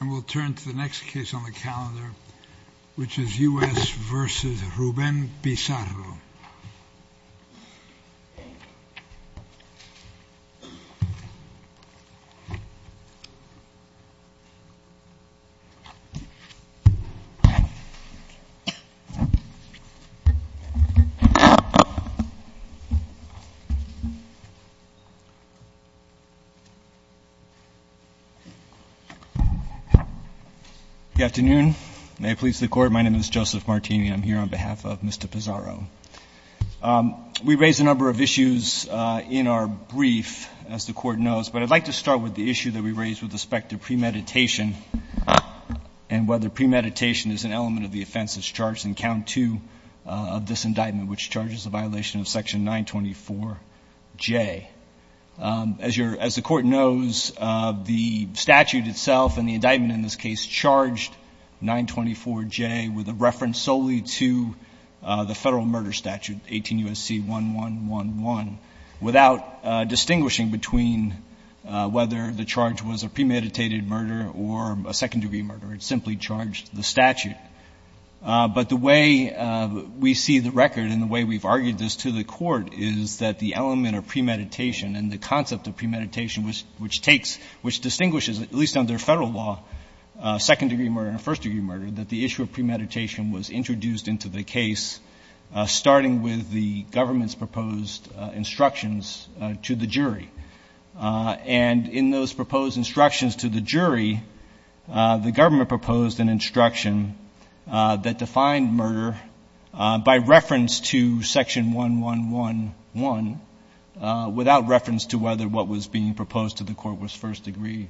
And we'll turn to the next case on the calendar, which is U.S. v. Ruben Pizarro. Good afternoon. May it please the Court, my name is Joseph Martini. I'm here on behalf of Mr. Pizarro. We raised a number of issues in our brief, as the Court knows, but I'd like to start with the issue that we raised with respect to premeditation and whether premeditation is an element of the offense that's charged in Count 2 of this indictment, which charges a violation of Section 924J. As the Court knows, the statute itself and the indictment in this case charged 924J with a reference solely to the federal murder statute, 18 U.S.C. 1111, without distinguishing between whether the charge was a premeditated murder or a second-degree murder. It simply charged the statute. But the way we see the record and the way we've argued this to the Court is that the element of premeditation and the concept of premeditation, which takes, which distinguishes, at least under federal law, second-degree murder and first-degree murder, that the issue of premeditation was introduced into the case, starting with the government's proposed instructions to the jury. And in those proposed instructions to the jury, the government proposed an instruction that defined murder by reference to Section 1111 without reference to whether what was being proposed to the Court was first-degree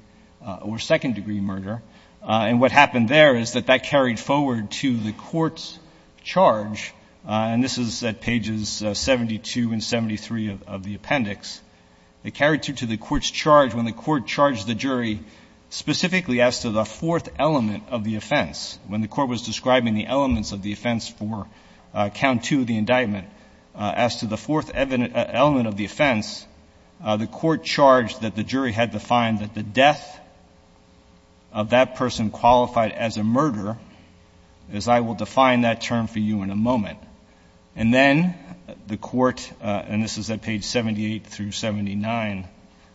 or second-degree murder. And what happened there is that that carried forward to the Court's charge, and this is at pages 72 and 73 of the appendix. It carried through to the Court's charge when the Court charged the jury specifically as to the fourth element of the offense. When the Court was describing the elements of the offense for Count 2, the indictment, as to the fourth element of the offense, the Court charged that the jury had defined that the death of that person qualified as a murder, as I will define that term for you in a moment. And then the Court, and this is at page 78 through 79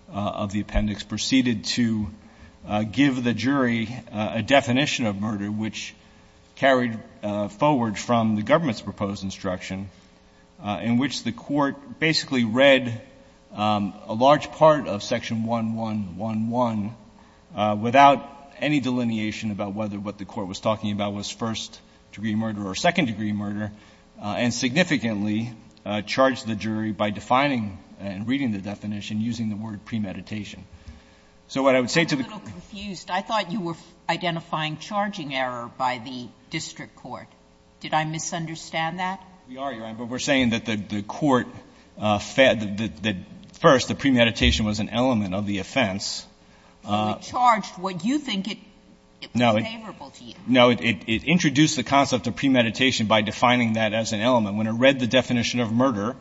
of the appendix, proceeded to give the jury a definition of murder which carried forward from the government's proposed instruction in which the Court basically read a large part of Section 1111 without any delineation about whether what the Court was talking about was first-degree murder and significantly charged the jury by defining and reading the definition using the word premeditation. So what I would say to the Court to the Court. Sotomayor, I'm a little confused. I thought you were identifying charging error by the district court. Did I misunderstand that? We are, Your Honor, but we're saying that the court fed that first the premeditation was an element of the offense. But it charged what you think it was favorable to you. No, it introduced the concept of premeditation by defining that as an element. When it read the definition of murder,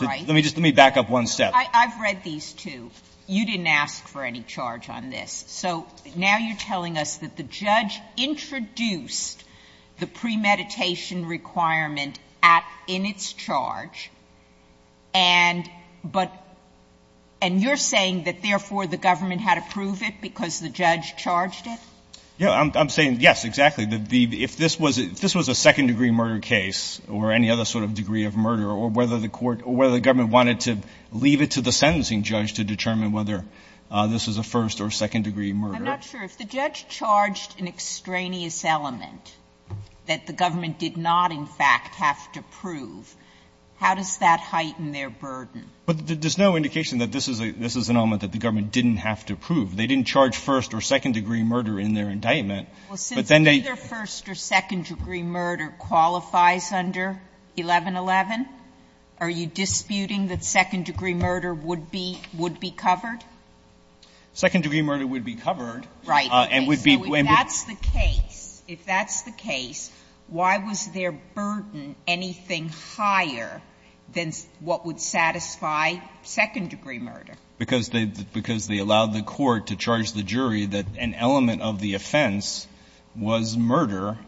let me just back up one step. Sotomayor, I've read these two. You didn't ask for any charge on this. So now you're telling us that the judge introduced the premeditation requirement in its charge, and but you're saying that therefore the government had to prove it because the judge charged it? Yeah, I'm saying yes, exactly. If this was a second-degree murder case or any other sort of degree of murder or whether the court or whether the government wanted to leave it to the sentencing judge to determine whether this was a first- or second-degree murder. I'm not sure. If the judge charged an extraneous element that the government did not in fact have to prove, how does that heighten their burden? But there's no indication that this is an element that the government didn't have to prove. They didn't charge first- or second-degree murder in their indictment. But then they. Sotomayor, either first- or second-degree murder qualifies under 1111? Are you disputing that second-degree murder would be covered? Second-degree murder would be covered. Right. If that's the case, if that's the case, why was their burden anything higher than what would satisfy second-degree murder? Because they, because they allowed the court to charge the jury that an element of the offense was murder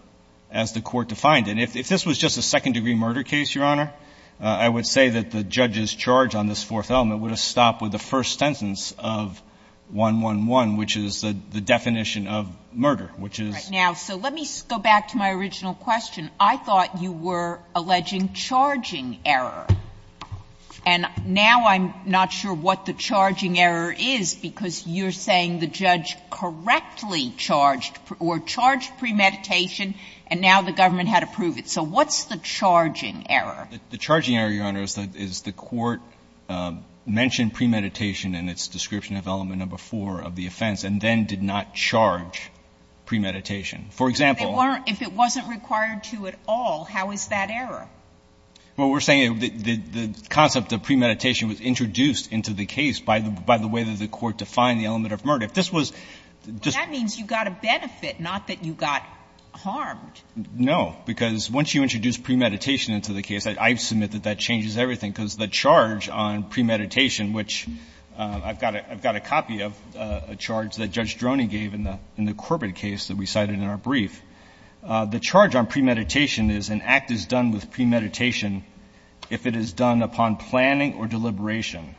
as the court defined. And if this was just a second-degree murder case, Your Honor, I would say that the judge's charge on this fourth element would have stopped with the first sentence of 111, which is the definition of murder, which is. Now, so let me go back to my original question. I thought you were alleging charging error. And now I'm not sure what the charging error is, because you're saying the judge correctly charged or charged premeditation, and now the government had to prove it. So what's the charging error? The charging error, Your Honor, is that the court mentioned premeditation in its description of element number 4 of the offense and then did not charge premeditation. For example. If it wasn't required to at all, how is that error? Well, we're saying the concept of premeditation was introduced into the case by the way that the court defined the element of murder. If this was just. Well, that means you got a benefit, not that you got harmed. No. Because once you introduce premeditation into the case, I submit that that changes everything, because the charge on premeditation, which I've got a copy of, a charge that Judge Droney gave in the Corbett case that we cited in our brief, the charge on premeditation is an act is done with premeditation if it is done upon planning or deliberation.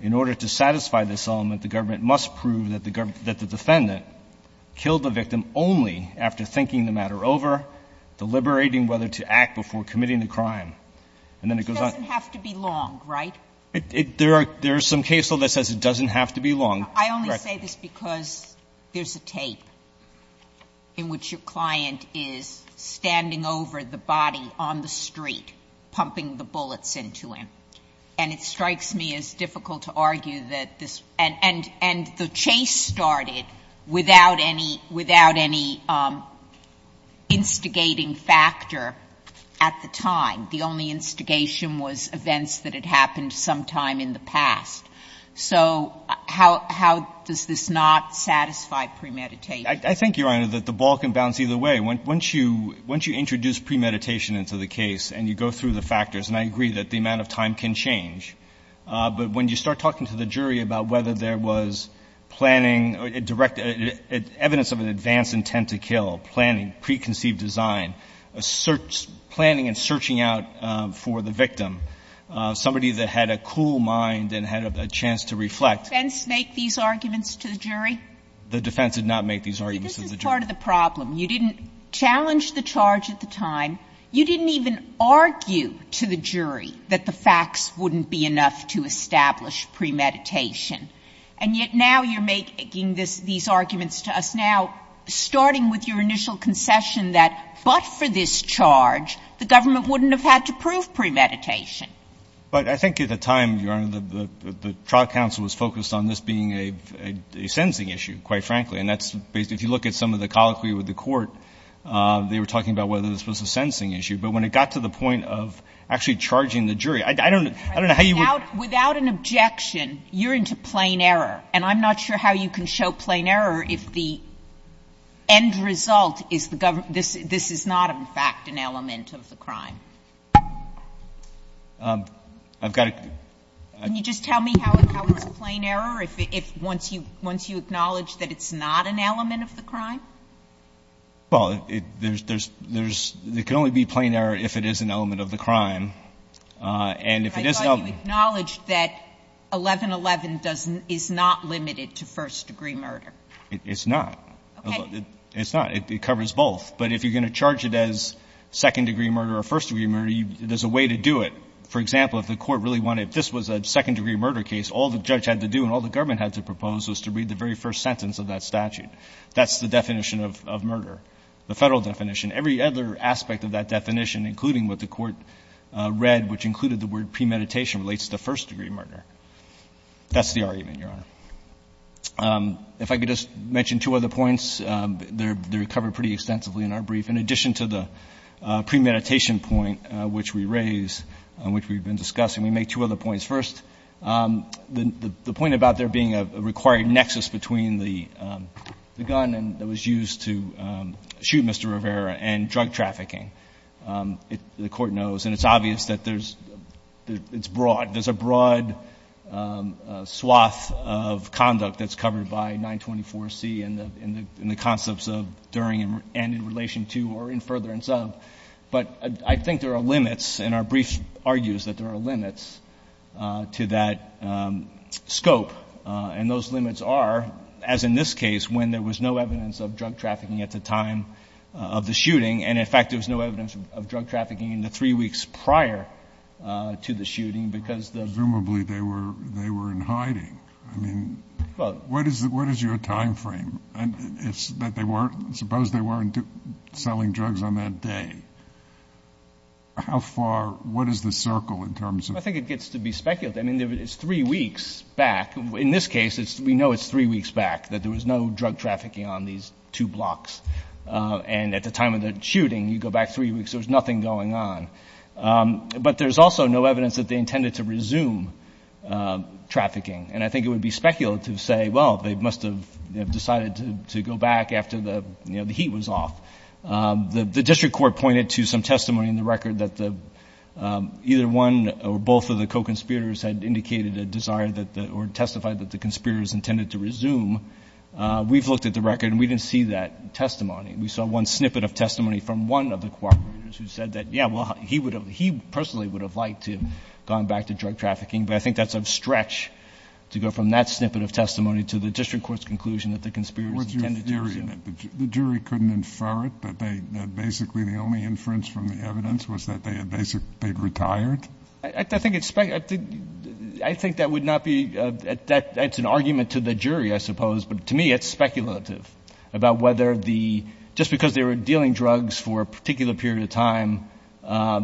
In order to satisfy this element, the government must prove that the defendant killed the victim only after thinking the matter over, deliberating whether to act before committing the crime. And then it goes on. It doesn't have to be long, right? There are some case law that says it doesn't have to be long. Sotomayor, I only say this because there's a tape in which your client is standing over the body on the street, pumping the bullets into him. And it strikes me as difficult to argue that this and the chase started without any, without any instigating factor at the time. The only instigation was events that had happened sometime in the past. So how does this not satisfy premeditation? I think, Your Honor, that the ball can bounce either way. Once you introduce premeditation into the case and you go through the factors, and I agree that the amount of time can change, but when you start talking to the jury about whether there was planning, direct, evidence of an advanced intent to kill, planning, preconceived design, a search, planning and searching out for the victim, somebody that had a cool mind and had a chance to reflect. The defense make these arguments to the jury? The defense did not make these arguments to the jury. But this is part of the problem. You didn't challenge the charge at the time. You didn't even argue to the jury that the facts wouldn't be enough to establish premeditation. And yet now you're making these arguments to us now, starting with your initial concession that but for this charge, the government wouldn't have had to prove premeditation. But I think at the time, Your Honor, the trial counsel was focused on this being a sentencing issue, quite frankly. And that's basically, if you look at some of the colloquy with the court, they were talking about whether this was a sentencing issue. But when it got to the point of actually charging the jury, I don't know how you would Without an objection, you're into plain error. And I'm not sure how you can show plain error if the end result is the government This is not, in fact, an element of the crime. I've got to Can you just tell me how it's plain error once you acknowledge that it's not an element of the crime? Well, it can only be plain error if it is an element of the crime. And if it is an element I thought you acknowledged that 1111 is not limited to first-degree murder. It's not. Okay. It's not. It covers both. But if you're going to charge it as second-degree murder or first-degree murder, there's a way to do it. For example, if the court really wanted, if this was a second-degree murder case, all the judge had to do and all the government had to propose was to read the very first sentence of that statute. That's the definition of murder, the Federal definition. Every other aspect of that definition, including what the court read, which included the word premeditation, relates to first-degree murder. That's the argument, Your Honor. If I could just mention two other points. They're covered pretty extensively in our brief. In addition to the premeditation point, which we raised, which we've been discussing, we make two other points. First, the point about there being a required nexus between the gun that was used to shoot Mr. Rivera and drug trafficking, the court knows. And it's obvious that there's – it's broad. There's a broad swath of conduct that's covered by 924C in the concepts of during and in relation to or in furtherance of. But I think there are limits, and our brief argues that there are limits to that scope. And those limits are, as in this case, when there was no evidence of drug trafficking at the time of the shooting. And, in fact, there was no evidence of drug trafficking in the three weeks prior to the shooting because the – Presumably they were in hiding. I mean, what is your timeframe? It's that they weren't – suppose they weren't selling drugs on that day. How far – what is the circle in terms of – I think it gets to be speculated. I mean, it's three weeks back. In this case, we know it's three weeks back, that there was no drug trafficking on these two blocks. And at the time of the shooting, you go back three weeks, there was nothing going on. But there's also no evidence that they intended to resume trafficking. And I think it would be speculative to say, well, they must have decided to go back after the heat was off. The district court pointed to some testimony in the record that either one or both of the co-conspirators had indicated a desire that – or testified that the conspirators intended to resume. We've looked at the record, and we didn't see that testimony. We saw one snippet of testimony from one of the co-conspirators who said that, yeah, well, he personally would have liked to have gone back to drug trafficking. But I think that's a stretch to go from that snippet of testimony to the district court's conclusion that the conspirators intended to resume. What's your theory? The jury couldn't infer it, that basically the only inference from the evidence was that they had basically retired? I think it's – I think that would not be – that's an argument to the jury, I suppose. But to me, it's speculative about whether the – just because they were dealing drugs for a particular period of time,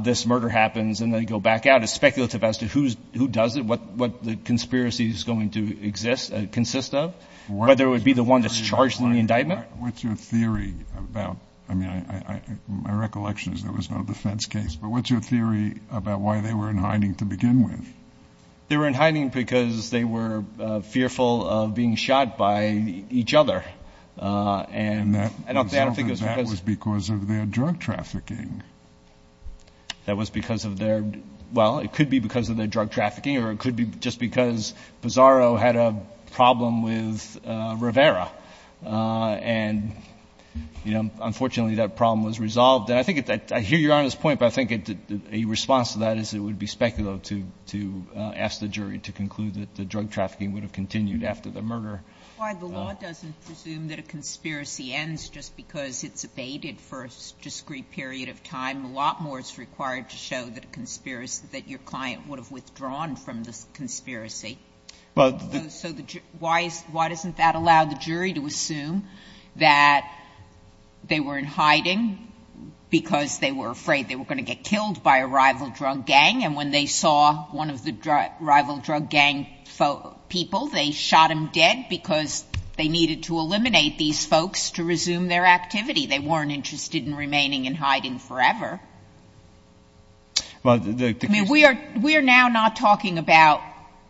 this murder happens and they go back out is speculative as to who does it, what the conspiracy is going to exist – consist of, whether it would be the one that's charged in the indictment. What's your theory about – I mean, my recollection is there was no defense case. But what's your theory about why they were in hiding to begin with? They were in hiding because they were fearful of being shot by each other. And that was because of their drug trafficking. That was because of their – well, it could be because of their drug trafficking or it could be just because Pizarro had a problem with Rivera. And, you know, unfortunately that problem was resolved. And I think – I hear Your Honor's point, but I think a response to that is it would be speculative to ask the jury to conclude that the drug trafficking would have continued after the murder. Why the law doesn't presume that a conspiracy ends just because it's abated for a discrete period of time. A lot more is required to show that a conspiracy – that your client would have withdrawn from the conspiracy. But the – So why is – why doesn't that allow the jury to assume that they were in hiding because they were afraid they were going to get killed by a rival drug gang? And when they saw one of the rival drug gang people, they shot him dead because they needed to eliminate these folks to resume their activity. They weren't interested in remaining in hiding forever. Well, the case – I mean, we are now not talking about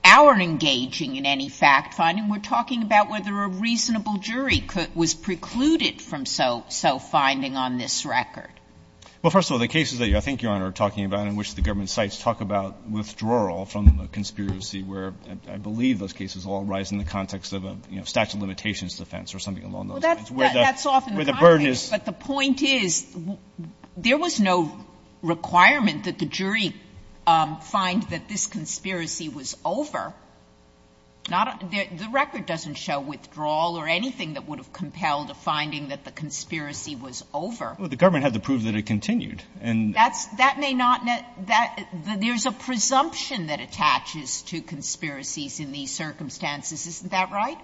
our engaging in any fact finding. We're talking about whether a reasonable jury was precluded from so finding on this record. Well, first of all, the cases that I think Your Honor are talking about in which the government cites talk about withdrawal from the conspiracy, where I believe those cases all arise in the context of a statute of limitations defense or something along those lines, where the burden is – Well, that's often the context, but the point is there was no requirement that the jury find that this conspiracy was over. The record doesn't show withdrawal or anything that would have compelled a finding that the conspiracy was over. Well, the government had to prove that it continued. That's – that may not – there's a presumption that attaches to conspiracies in these circumstances. Isn't that right?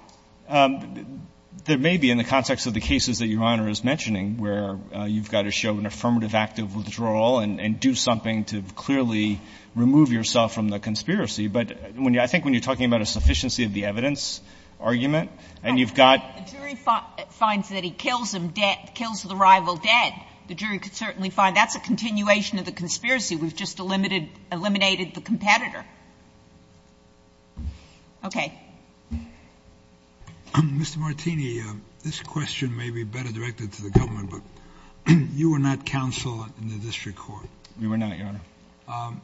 There may be in the context of the cases that Your Honor is mentioning where you've got to show an affirmative act of withdrawal and do something to clearly remove yourself from the conspiracy. But I think when you're talking about a sufficiency of the evidence argument and you've got – The jury finds that he kills him dead, kills the rival dead. The jury could certainly find that's a continuation of the conspiracy. We've just eliminated the competitor. Okay. Mr. Martini, this question may be better directed to the government, but you were not counsel in the district court. We were not, Your Honor.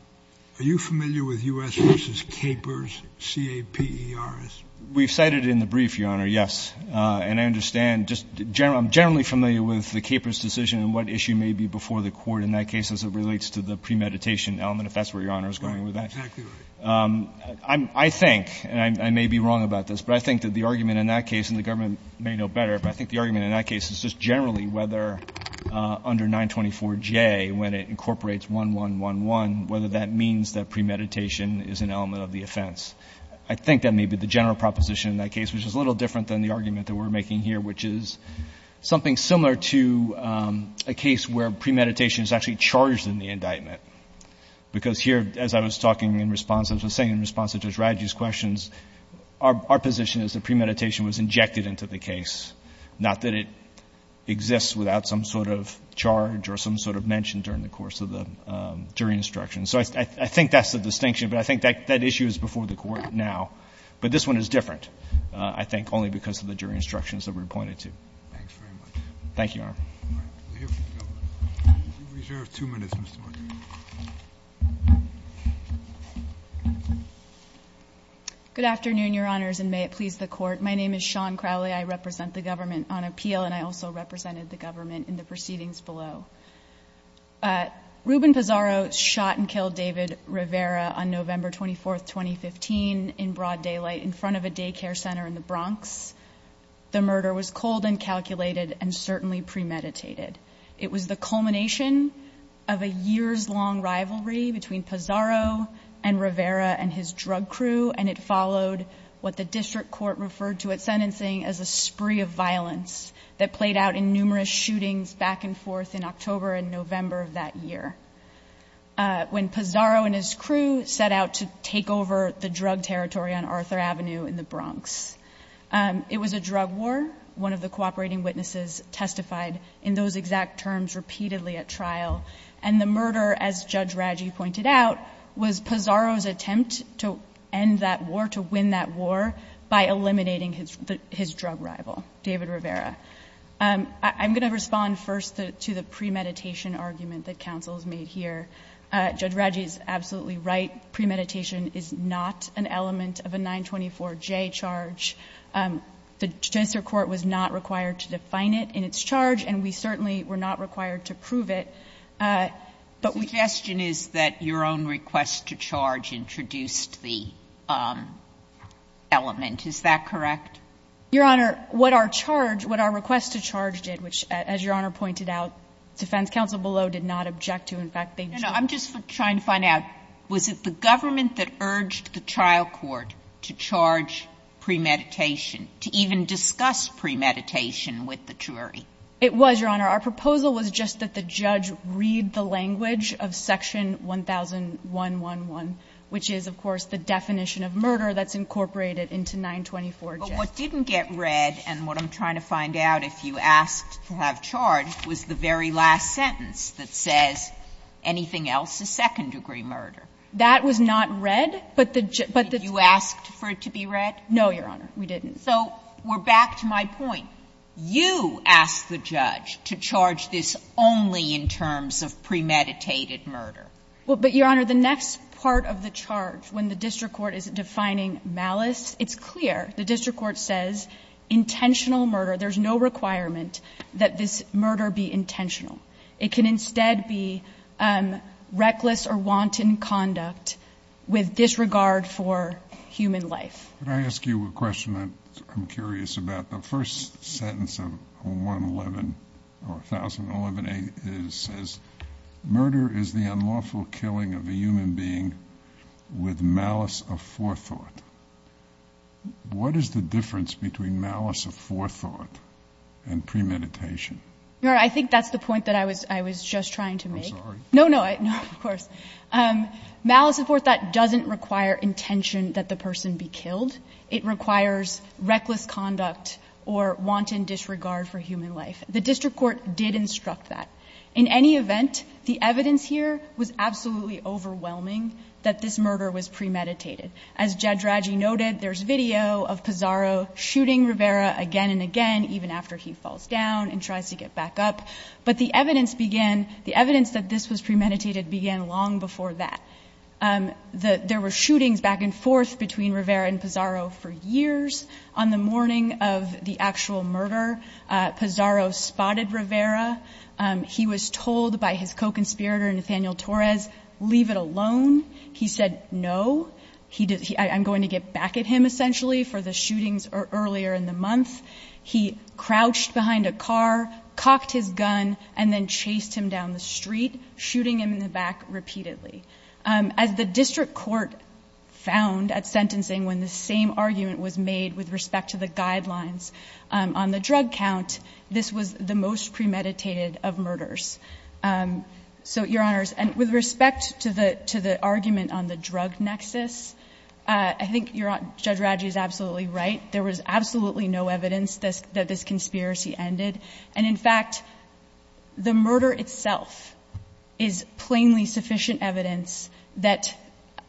Are you familiar with U.S. v. Capers, C-A-P-E-R-S? We've cited it in the brief, Your Honor, yes. And I understand just – I'm generally familiar with the Capers decision and what issue may be before the court in that case as it relates to the premeditation element, if that's where Your Honor is going with that. Right, exactly right. I think, and I may be wrong about this, but I think that the argument in that case – and the government may know better – but I think the argument in that case is just generally whether under 924J, when it incorporates 1111, whether that means that premeditation is an element of the offense. I think that may be the general proposition in that case, which is a little different than the argument that we're making here, which is something similar to a case where premeditation is actually charged in the indictment. Because here, as I was talking in response, as I was saying in response to Judge Radji's questions, our position is that premeditation was injected into the case, not that it exists without some sort of charge or some sort of mention during the course of the jury instruction. So I think that's the distinction. But I think that issue is before the Court now. But this one is different, I think, only because of the jury instructions that we're pointing to. Thanks very much. Thank you, Your Honor. All right. We'll hear from the government. You've reserved two minutes, Mr. Martin. Good afternoon, Your Honors, and may it please the Court. My name is Shawn Crowley. I represent the government on appeal, and I also represented the government in the proceedings below. Ruben Pizarro shot and killed David Rivera on November 24, 2015, in broad daylight in front of a daycare center in the Bronx. The murder was cold and calculated and certainly premeditated. It was the culmination of a years-long rivalry between Pizarro and Rivera and his drug crew, and it followed what the district court referred to at sentencing as a spree of violence that played out in numerous shootings back and forth in October and November of that year, when Pizarro and his crew set out to take over the drug territory on Arthur Avenue in the Bronx. It was a drug war. One of the cooperating witnesses testified in those exact terms repeatedly at trial. And the murder, as Judge Raggi pointed out, was Pizarro's attempt to end that war, to win that war, by eliminating his drug rival, David Rivera. I'm going to respond first to the premeditation argument that counsel has made here. Judge Raggi is absolutely right. Premeditation is not an element of a 924J charge. The Judiciary Court was not required to define it in its charge, and we certainly were not required to prove it. But we can't prove it. Sotomayor, your suggestion is that your own request to charge introduced the element. Is that correct? Your Honor, what our charge, what our request to charge did, which, as Your Honor pointed out, defense counsel below did not object to. In fact, they did not. I'm just trying to find out, was it the government that urged the trial court to charge premeditation, to even discuss premeditation with the jury? It was, Your Honor. Our proposal was just that the judge read the language of Section 1001.1.1, which is, of course, the definition of murder that's incorporated into 924J. What didn't get read, and what I'm trying to find out, if you asked to have charged, was the very last sentence that says, anything else is second-degree murder. That was not read, but the judge. Did you ask for it to be read? No, Your Honor, we didn't. So we're back to my point. You asked the judge to charge this only in terms of premeditated murder. Well, but, Your Honor, the next part of the charge, when the district court is defining malice, it's clear. The district court says intentional murder. There's no requirement that this murder be intentional. It can instead be reckless or wanton conduct with disregard for human life. Can I ask you a question that I'm curious about? The first sentence of 111 or 1011a says, murder is the unlawful killing of a human being with malice of forethought. What is the difference between malice of forethought and premeditation? Your Honor, I think that's the point that I was just trying to make. I'm sorry. No, no, of course. Malice of forethought doesn't require intention that the person be killed. It requires reckless conduct or wanton disregard for human life. The district court did instruct that. In any event, the evidence here was absolutely overwhelming that this murder was premeditated. As Judge Radji noted, there's video of Pizarro shooting Rivera again and again, even after he falls down and tries to get back up. But the evidence began, the evidence that this was premeditated began long before that. There were shootings back and forth between Rivera and Pizarro for years. On the morning of the actual murder, Pizarro spotted Rivera. He was told by his co-conspirator, Nathaniel Torres, leave it alone. He said no. I'm going to get back at him essentially for the shootings earlier in the month. He crouched behind a car, cocked his gun, and then chased him down the street, shooting him in the back repeatedly. As the district court found at sentencing when the same argument was made with respect to the guidelines on the drug count, this was the most premeditated of murders. So, Your Honors, with respect to the argument on the drug nexus, I think Judge Radji is absolutely right. There was absolutely no evidence that this conspiracy ended. And, in fact, the murder itself is plainly sufficient evidence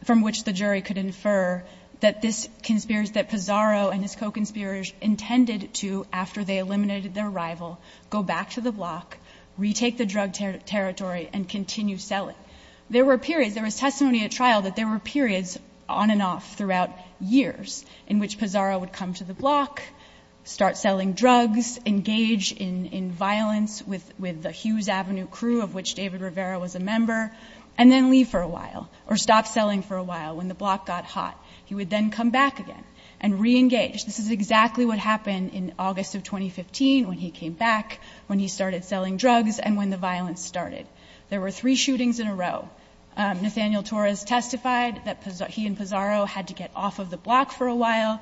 from which the jury could infer that this conspiracy, that Pizarro and his co-conspirators intended to, after they eliminated their rival, go back to the block, retake the drug territory, and continue selling. There were periods, there was testimony at trial that there were periods on and off throughout years in which Pizarro would come to the block, start selling drugs, engage in violence with the Hughes Avenue crew, of which David Rivera was a member, and then leave for a while or stop selling for a while when the block got hot. He would then come back again and reengage. This is exactly what happened in August of 2015 when he came back, when he started selling drugs, and when the violence started. There were three shootings in a row. Nathaniel Torres testified that he and Pizarro had to get off of the block for a while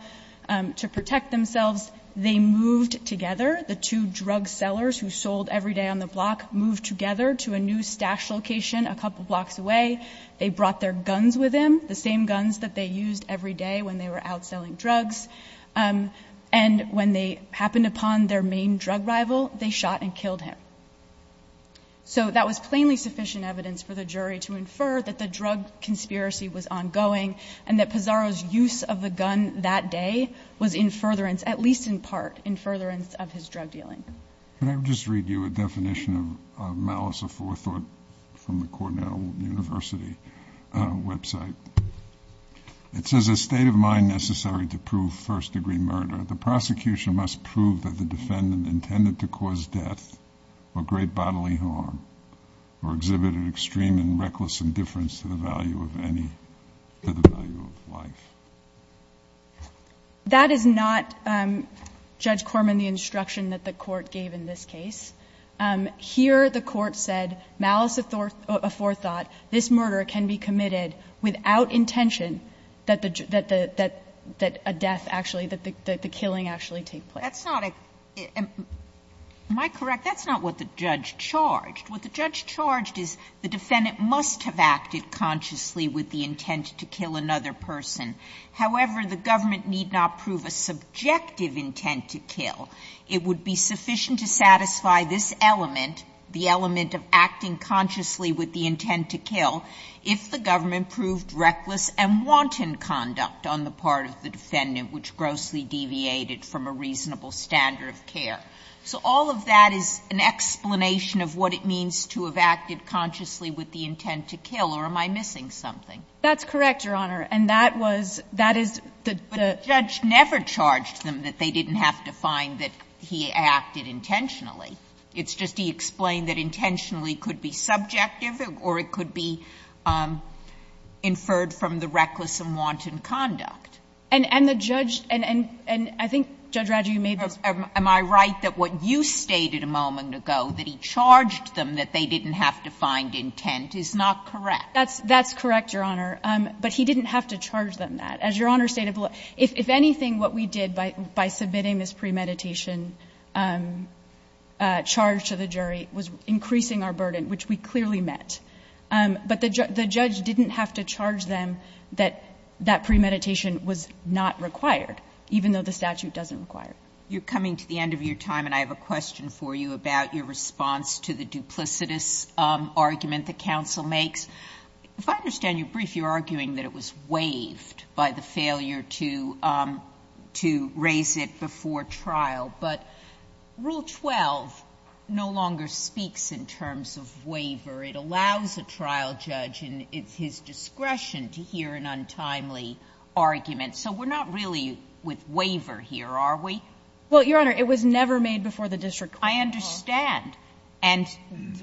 to protect themselves. They moved together. The two drug sellers who sold every day on the block moved together to a new stash location a couple blocks away. They brought their guns with them, the same guns that they used every day when they were out selling drugs. And when they happened upon their main drug rival, they shot and killed him. So that was plainly sufficient evidence for the jury to infer that the drug conspiracy was ongoing and that Pizarro's use of the gun that day was in furtherance, at least in part, in furtherance of his drug dealing. Can I just read you a definition of malice or forethought from the Cornell University website? It says, If there is a state of mind necessary to prove first-degree murder, the prosecution must prove that the defendant intended to cause death or great bodily harm or exhibited extreme and reckless indifference to the value of life. That is not, Judge Corman, the instruction that the court gave in this case. Here the court said malice or forethought, this murder can be committed without intention that the death actually, that the killing actually take place. That's not a – am I correct? That's not what the judge charged. What the judge charged is the defendant must have acted consciously with the intent to kill another person. However, the government need not prove a subjective intent to kill. It would be sufficient to satisfy this element, the element of acting consciously with the intent to kill, if the government proved reckless and wanton conduct on the part of the defendant which grossly deviated from a reasonable standard of care. So all of that is an explanation of what it means to have acted consciously with the intent to kill, or am I missing something? That's correct, Your Honor. And that was – that is the – But the judge never charged them that they didn't have to find that he acted intentionally. It's just he explained that intentionally could be subjective or it could be inferred from the reckless and wanton conduct. And the judge – and I think, Judge Rogers, you made this point. Am I right that what you stated a moment ago, that he charged them that they didn't have to find intent, is not correct? That's correct, Your Honor. But he didn't have to charge them that. As Your Honor stated, if anything, what we did by submitting this premeditation charge to the jury was increasing our burden, which we clearly met. But the judge didn't have to charge them that that premeditation was not required, even though the statute doesn't require it. You're coming to the end of your time, and I have a question for you about your response to the duplicitous argument that counsel makes. If I understand you brief, you're arguing that it was waived by the failure to raise it before trial, but Rule 12 no longer speaks in terms of waiver. It allows a trial judge, and it's his discretion to hear an untimely argument. So we're not really with waiver here, are we? Well, Your Honor, it was never made before the district court. I understand. And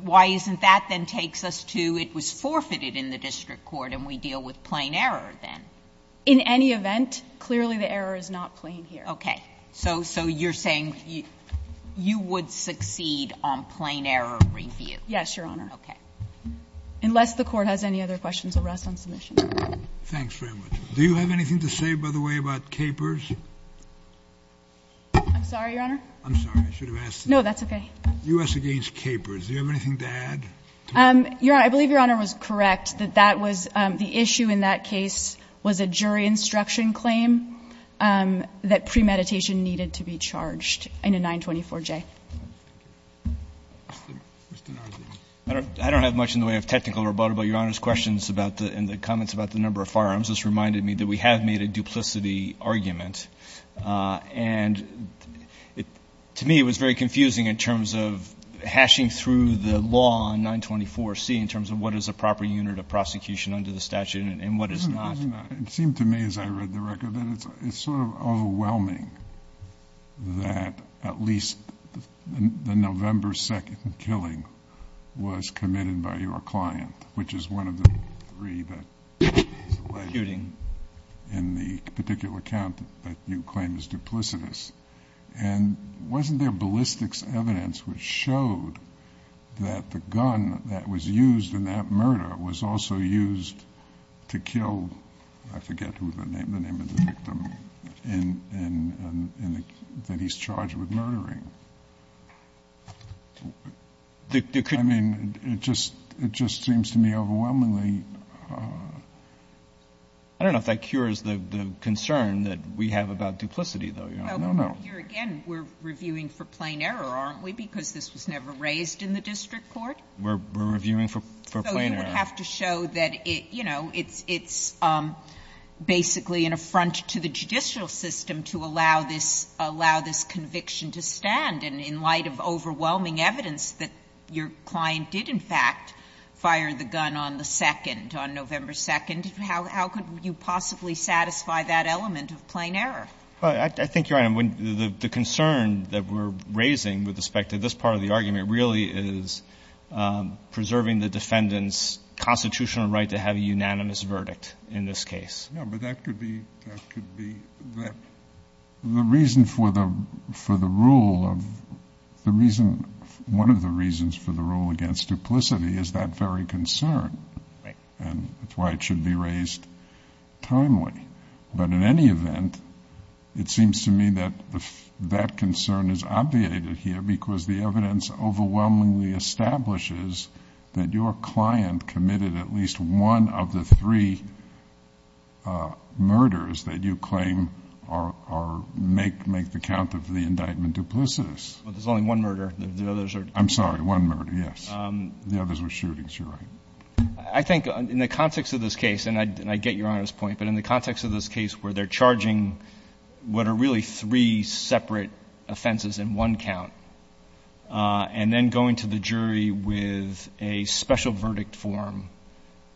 why isn't that then takes us to it was forfeited in the district court, and we deal with plain error then? In any event, clearly the error is not plain here. Okay. So you're saying you would succeed on plain error review? Yes, Your Honor. Okay. Unless the Court has any other questions, I'll rest on submission. Thanks very much. Do you have anything to say, by the way, about Capers? I'm sorry, Your Honor? I'm sorry. I should have asked. No, that's okay. U.S. against Capers. Do you have anything to add? Your Honor, I believe Your Honor was correct that that was the issue in that case was a jury instruction claim that premeditation needed to be charged in a 924J. I don't have much in the way of technical rebuttal, but Your Honor's questions and the comments about the number of firearms just reminded me that we have made a duplicity argument. And to me it was very confusing in terms of hashing through the law on 924C in terms of what is a proper unit of prosecution under the statute and what is not. It seemed to me as I read the record that it's sort of overwhelming that at least the November 2nd killing was committed by your client, which is one of the three that is alleged in the particular count that you claim is duplicitous. And wasn't there ballistics evidence which showed that the gun that was used in that murder was also used to kill, I forget the name of the victim, that he's charged with murdering? I mean, it just seems to me overwhelmingly. I don't know if that cures the concern that we have about duplicity, though. No, no. Well, here again we're reviewing for plain error, aren't we, because this was never raised in the district court? We're reviewing for plain error. So you would have to show that it's basically an affront to the judicial system to allow this conviction to stand. And in light of overwhelming evidence that your client did, in fact, fire the gun on the 2nd, on November 2nd, how could you possibly satisfy that element of plain error? I think you're right. The concern that we're raising with respect to this part of the argument really is preserving the defendant's constitutional right to have a unanimous verdict in this case. No, but that could be, that could be, the reason for the, for the rule of, the reason, one of the reasons for the rule against duplicity is that very concern. And that's why it should be raised timely. But in any event, it seems to me that that concern is obviated here because the evidence overwhelmingly establishes that your client committed at least one of the three murders that you claim are, are, make, make the count of the indictment duplicitous. But there's only one murder. The others are, I'm sorry, one murder. Yes. The others were shootings. You're right. I think in the context of this case, and I, and I get Your Honor's point, but in the context of this case where they're charging what are really three separate offenses in one count, and then going to the jury with a special verdict form,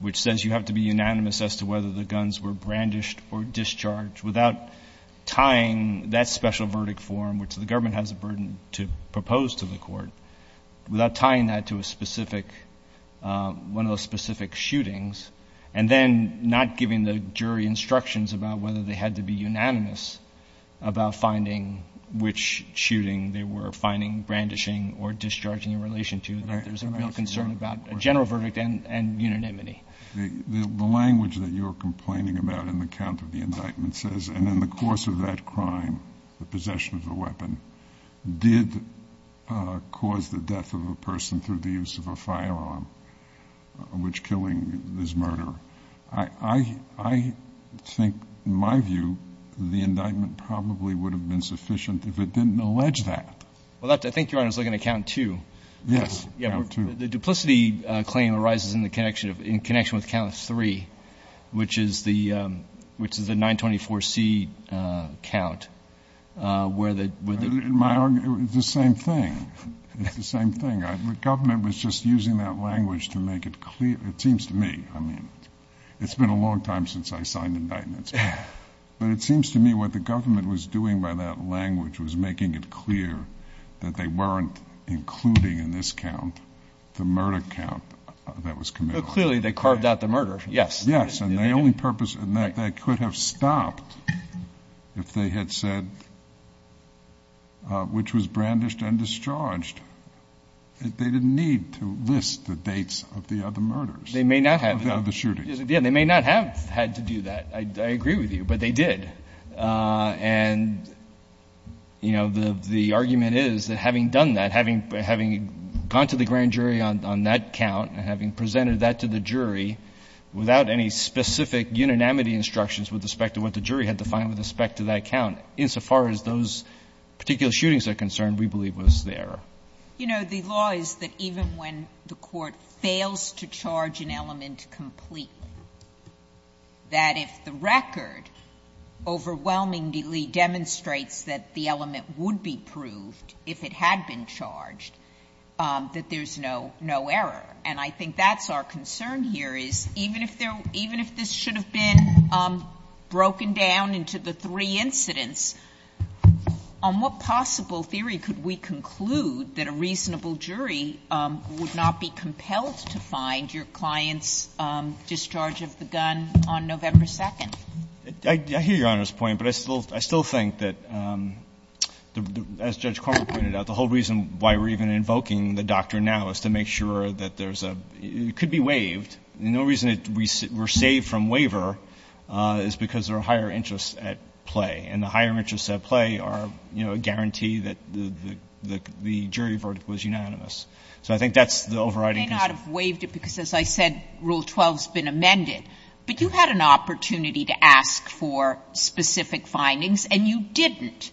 which says you have to be unanimous as to whether the guns were brandished or discharged without tying that special verdict form, which the government has a burden to propose to the court, without tying that to a specific, one of those specific shootings, and then not giving the jury instructions about whether they had to be unanimous about finding which shooting they were finding, brandishing, or discharging in relation to, there's a real concern about a general verdict and, and unanimity. The, the language that you're complaining about in the count of the indictment says, and in the course of that crime, the possession of the weapon did cause the death of a person through the use of a firearm, which killing is murder. I, I, I think, in my view, the indictment probably would have been sufficient if it didn't allege that. Well, that's, I think Your Honor's looking at count two. Yes. Yeah, the duplicity claim arises in the connection of, in connection with count three, which is the, which is the 924C count, where the, where the. In my argument, it's the same thing. It's the same thing. I, the government was just using that language to make it clear. It seems to me, I mean, it's been a long time since I signed indictments, but it seems to me what the government was doing by that language was making it clear that they weren't including in this count, the murder count that was committed. Clearly they carved out the murder. Yes. Yes. And the only purpose in that, that could have stopped if they had said, which was brandished and discharged, they didn't need to list the dates of the other murders. They may not have. Of the other shootings. Yeah. They may not have had to do that. I, I agree with you, but they did. And, you know, the, the argument is that having done that, having, having gone to the grand jury on, on that count and having presented that to the jury without any specific unanimity instructions with respect to what the jury had to find with respect to that count, insofar as those particular shootings are concerned, we believe was the error. You know, the law is that even when the Court fails to charge an element complete, that if the record overwhelmingly demonstrates that the element would be proved if it had been charged, that there's no, no error. And I think that's our concern here is even if there, even if this should have been broken down into the three incidents, on what possible theory could we conclude that a reasonable jury would not be compelled to find your client's discharge of the gun on November 2nd? I, I hear Your Honor's point, but I still, I still think that the, as Judge Cormer pointed out, the whole reason why we're even invoking the doctrine now is to make sure that there's a, it could be waived. No reason it, we're saved from waiver is because there are higher interests at play. And the higher interests at play are, you know, a guarantee that the, the, the jury verdict was unanimous. So I think that's the overriding concern. You may not have waived it because, as I said, Rule 12's been amended. But you had an opportunity to ask for specific findings and you didn't.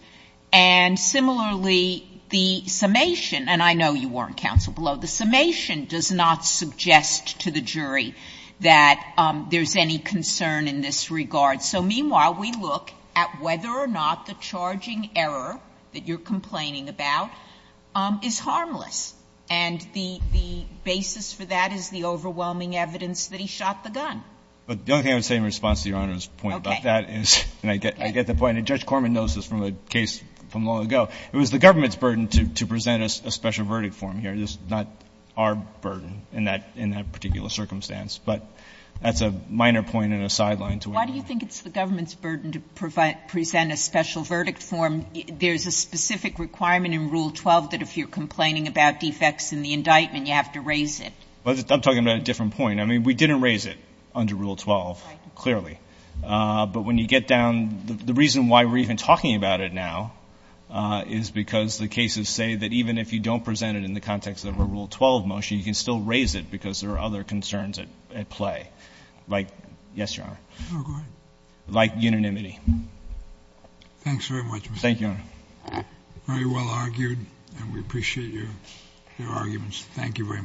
And similarly, the summation, and I know you weren't counsel below, the summation does not suggest to the jury that there's any concern in this regard. So meanwhile, we look at whether or not the charging error that you're complaining about is harmless. And the, the basis for that is the overwhelming evidence that he shot the gun. But the only thing I would say in response to Your Honor's point about that is, and I get, I get the point, and Judge Cormer knows this from a case from long ago, it was the government's burden to, to present a special verdict for him here. It's not our burden in that, in that particular circumstance. Why do you think it's the government's burden to provide, present a special verdict for him? There's a specific requirement in Rule 12 that if you're complaining about defects in the indictment, you have to raise it. Well, I'm talking about a different point. I mean, we didn't raise it under Rule 12, clearly. But when you get down, the, the reason why we're even talking about it now is because the cases say that even if you don't present it in the context of a Rule 12 motion, you can still raise it because there are other concerns at, at play. Like, yes, Your Honor. Oh, go ahead. Like unanimity. Thanks very much. Thank you, Your Honor. Very well argued, and we appreciate your, your arguments. Thank you very much.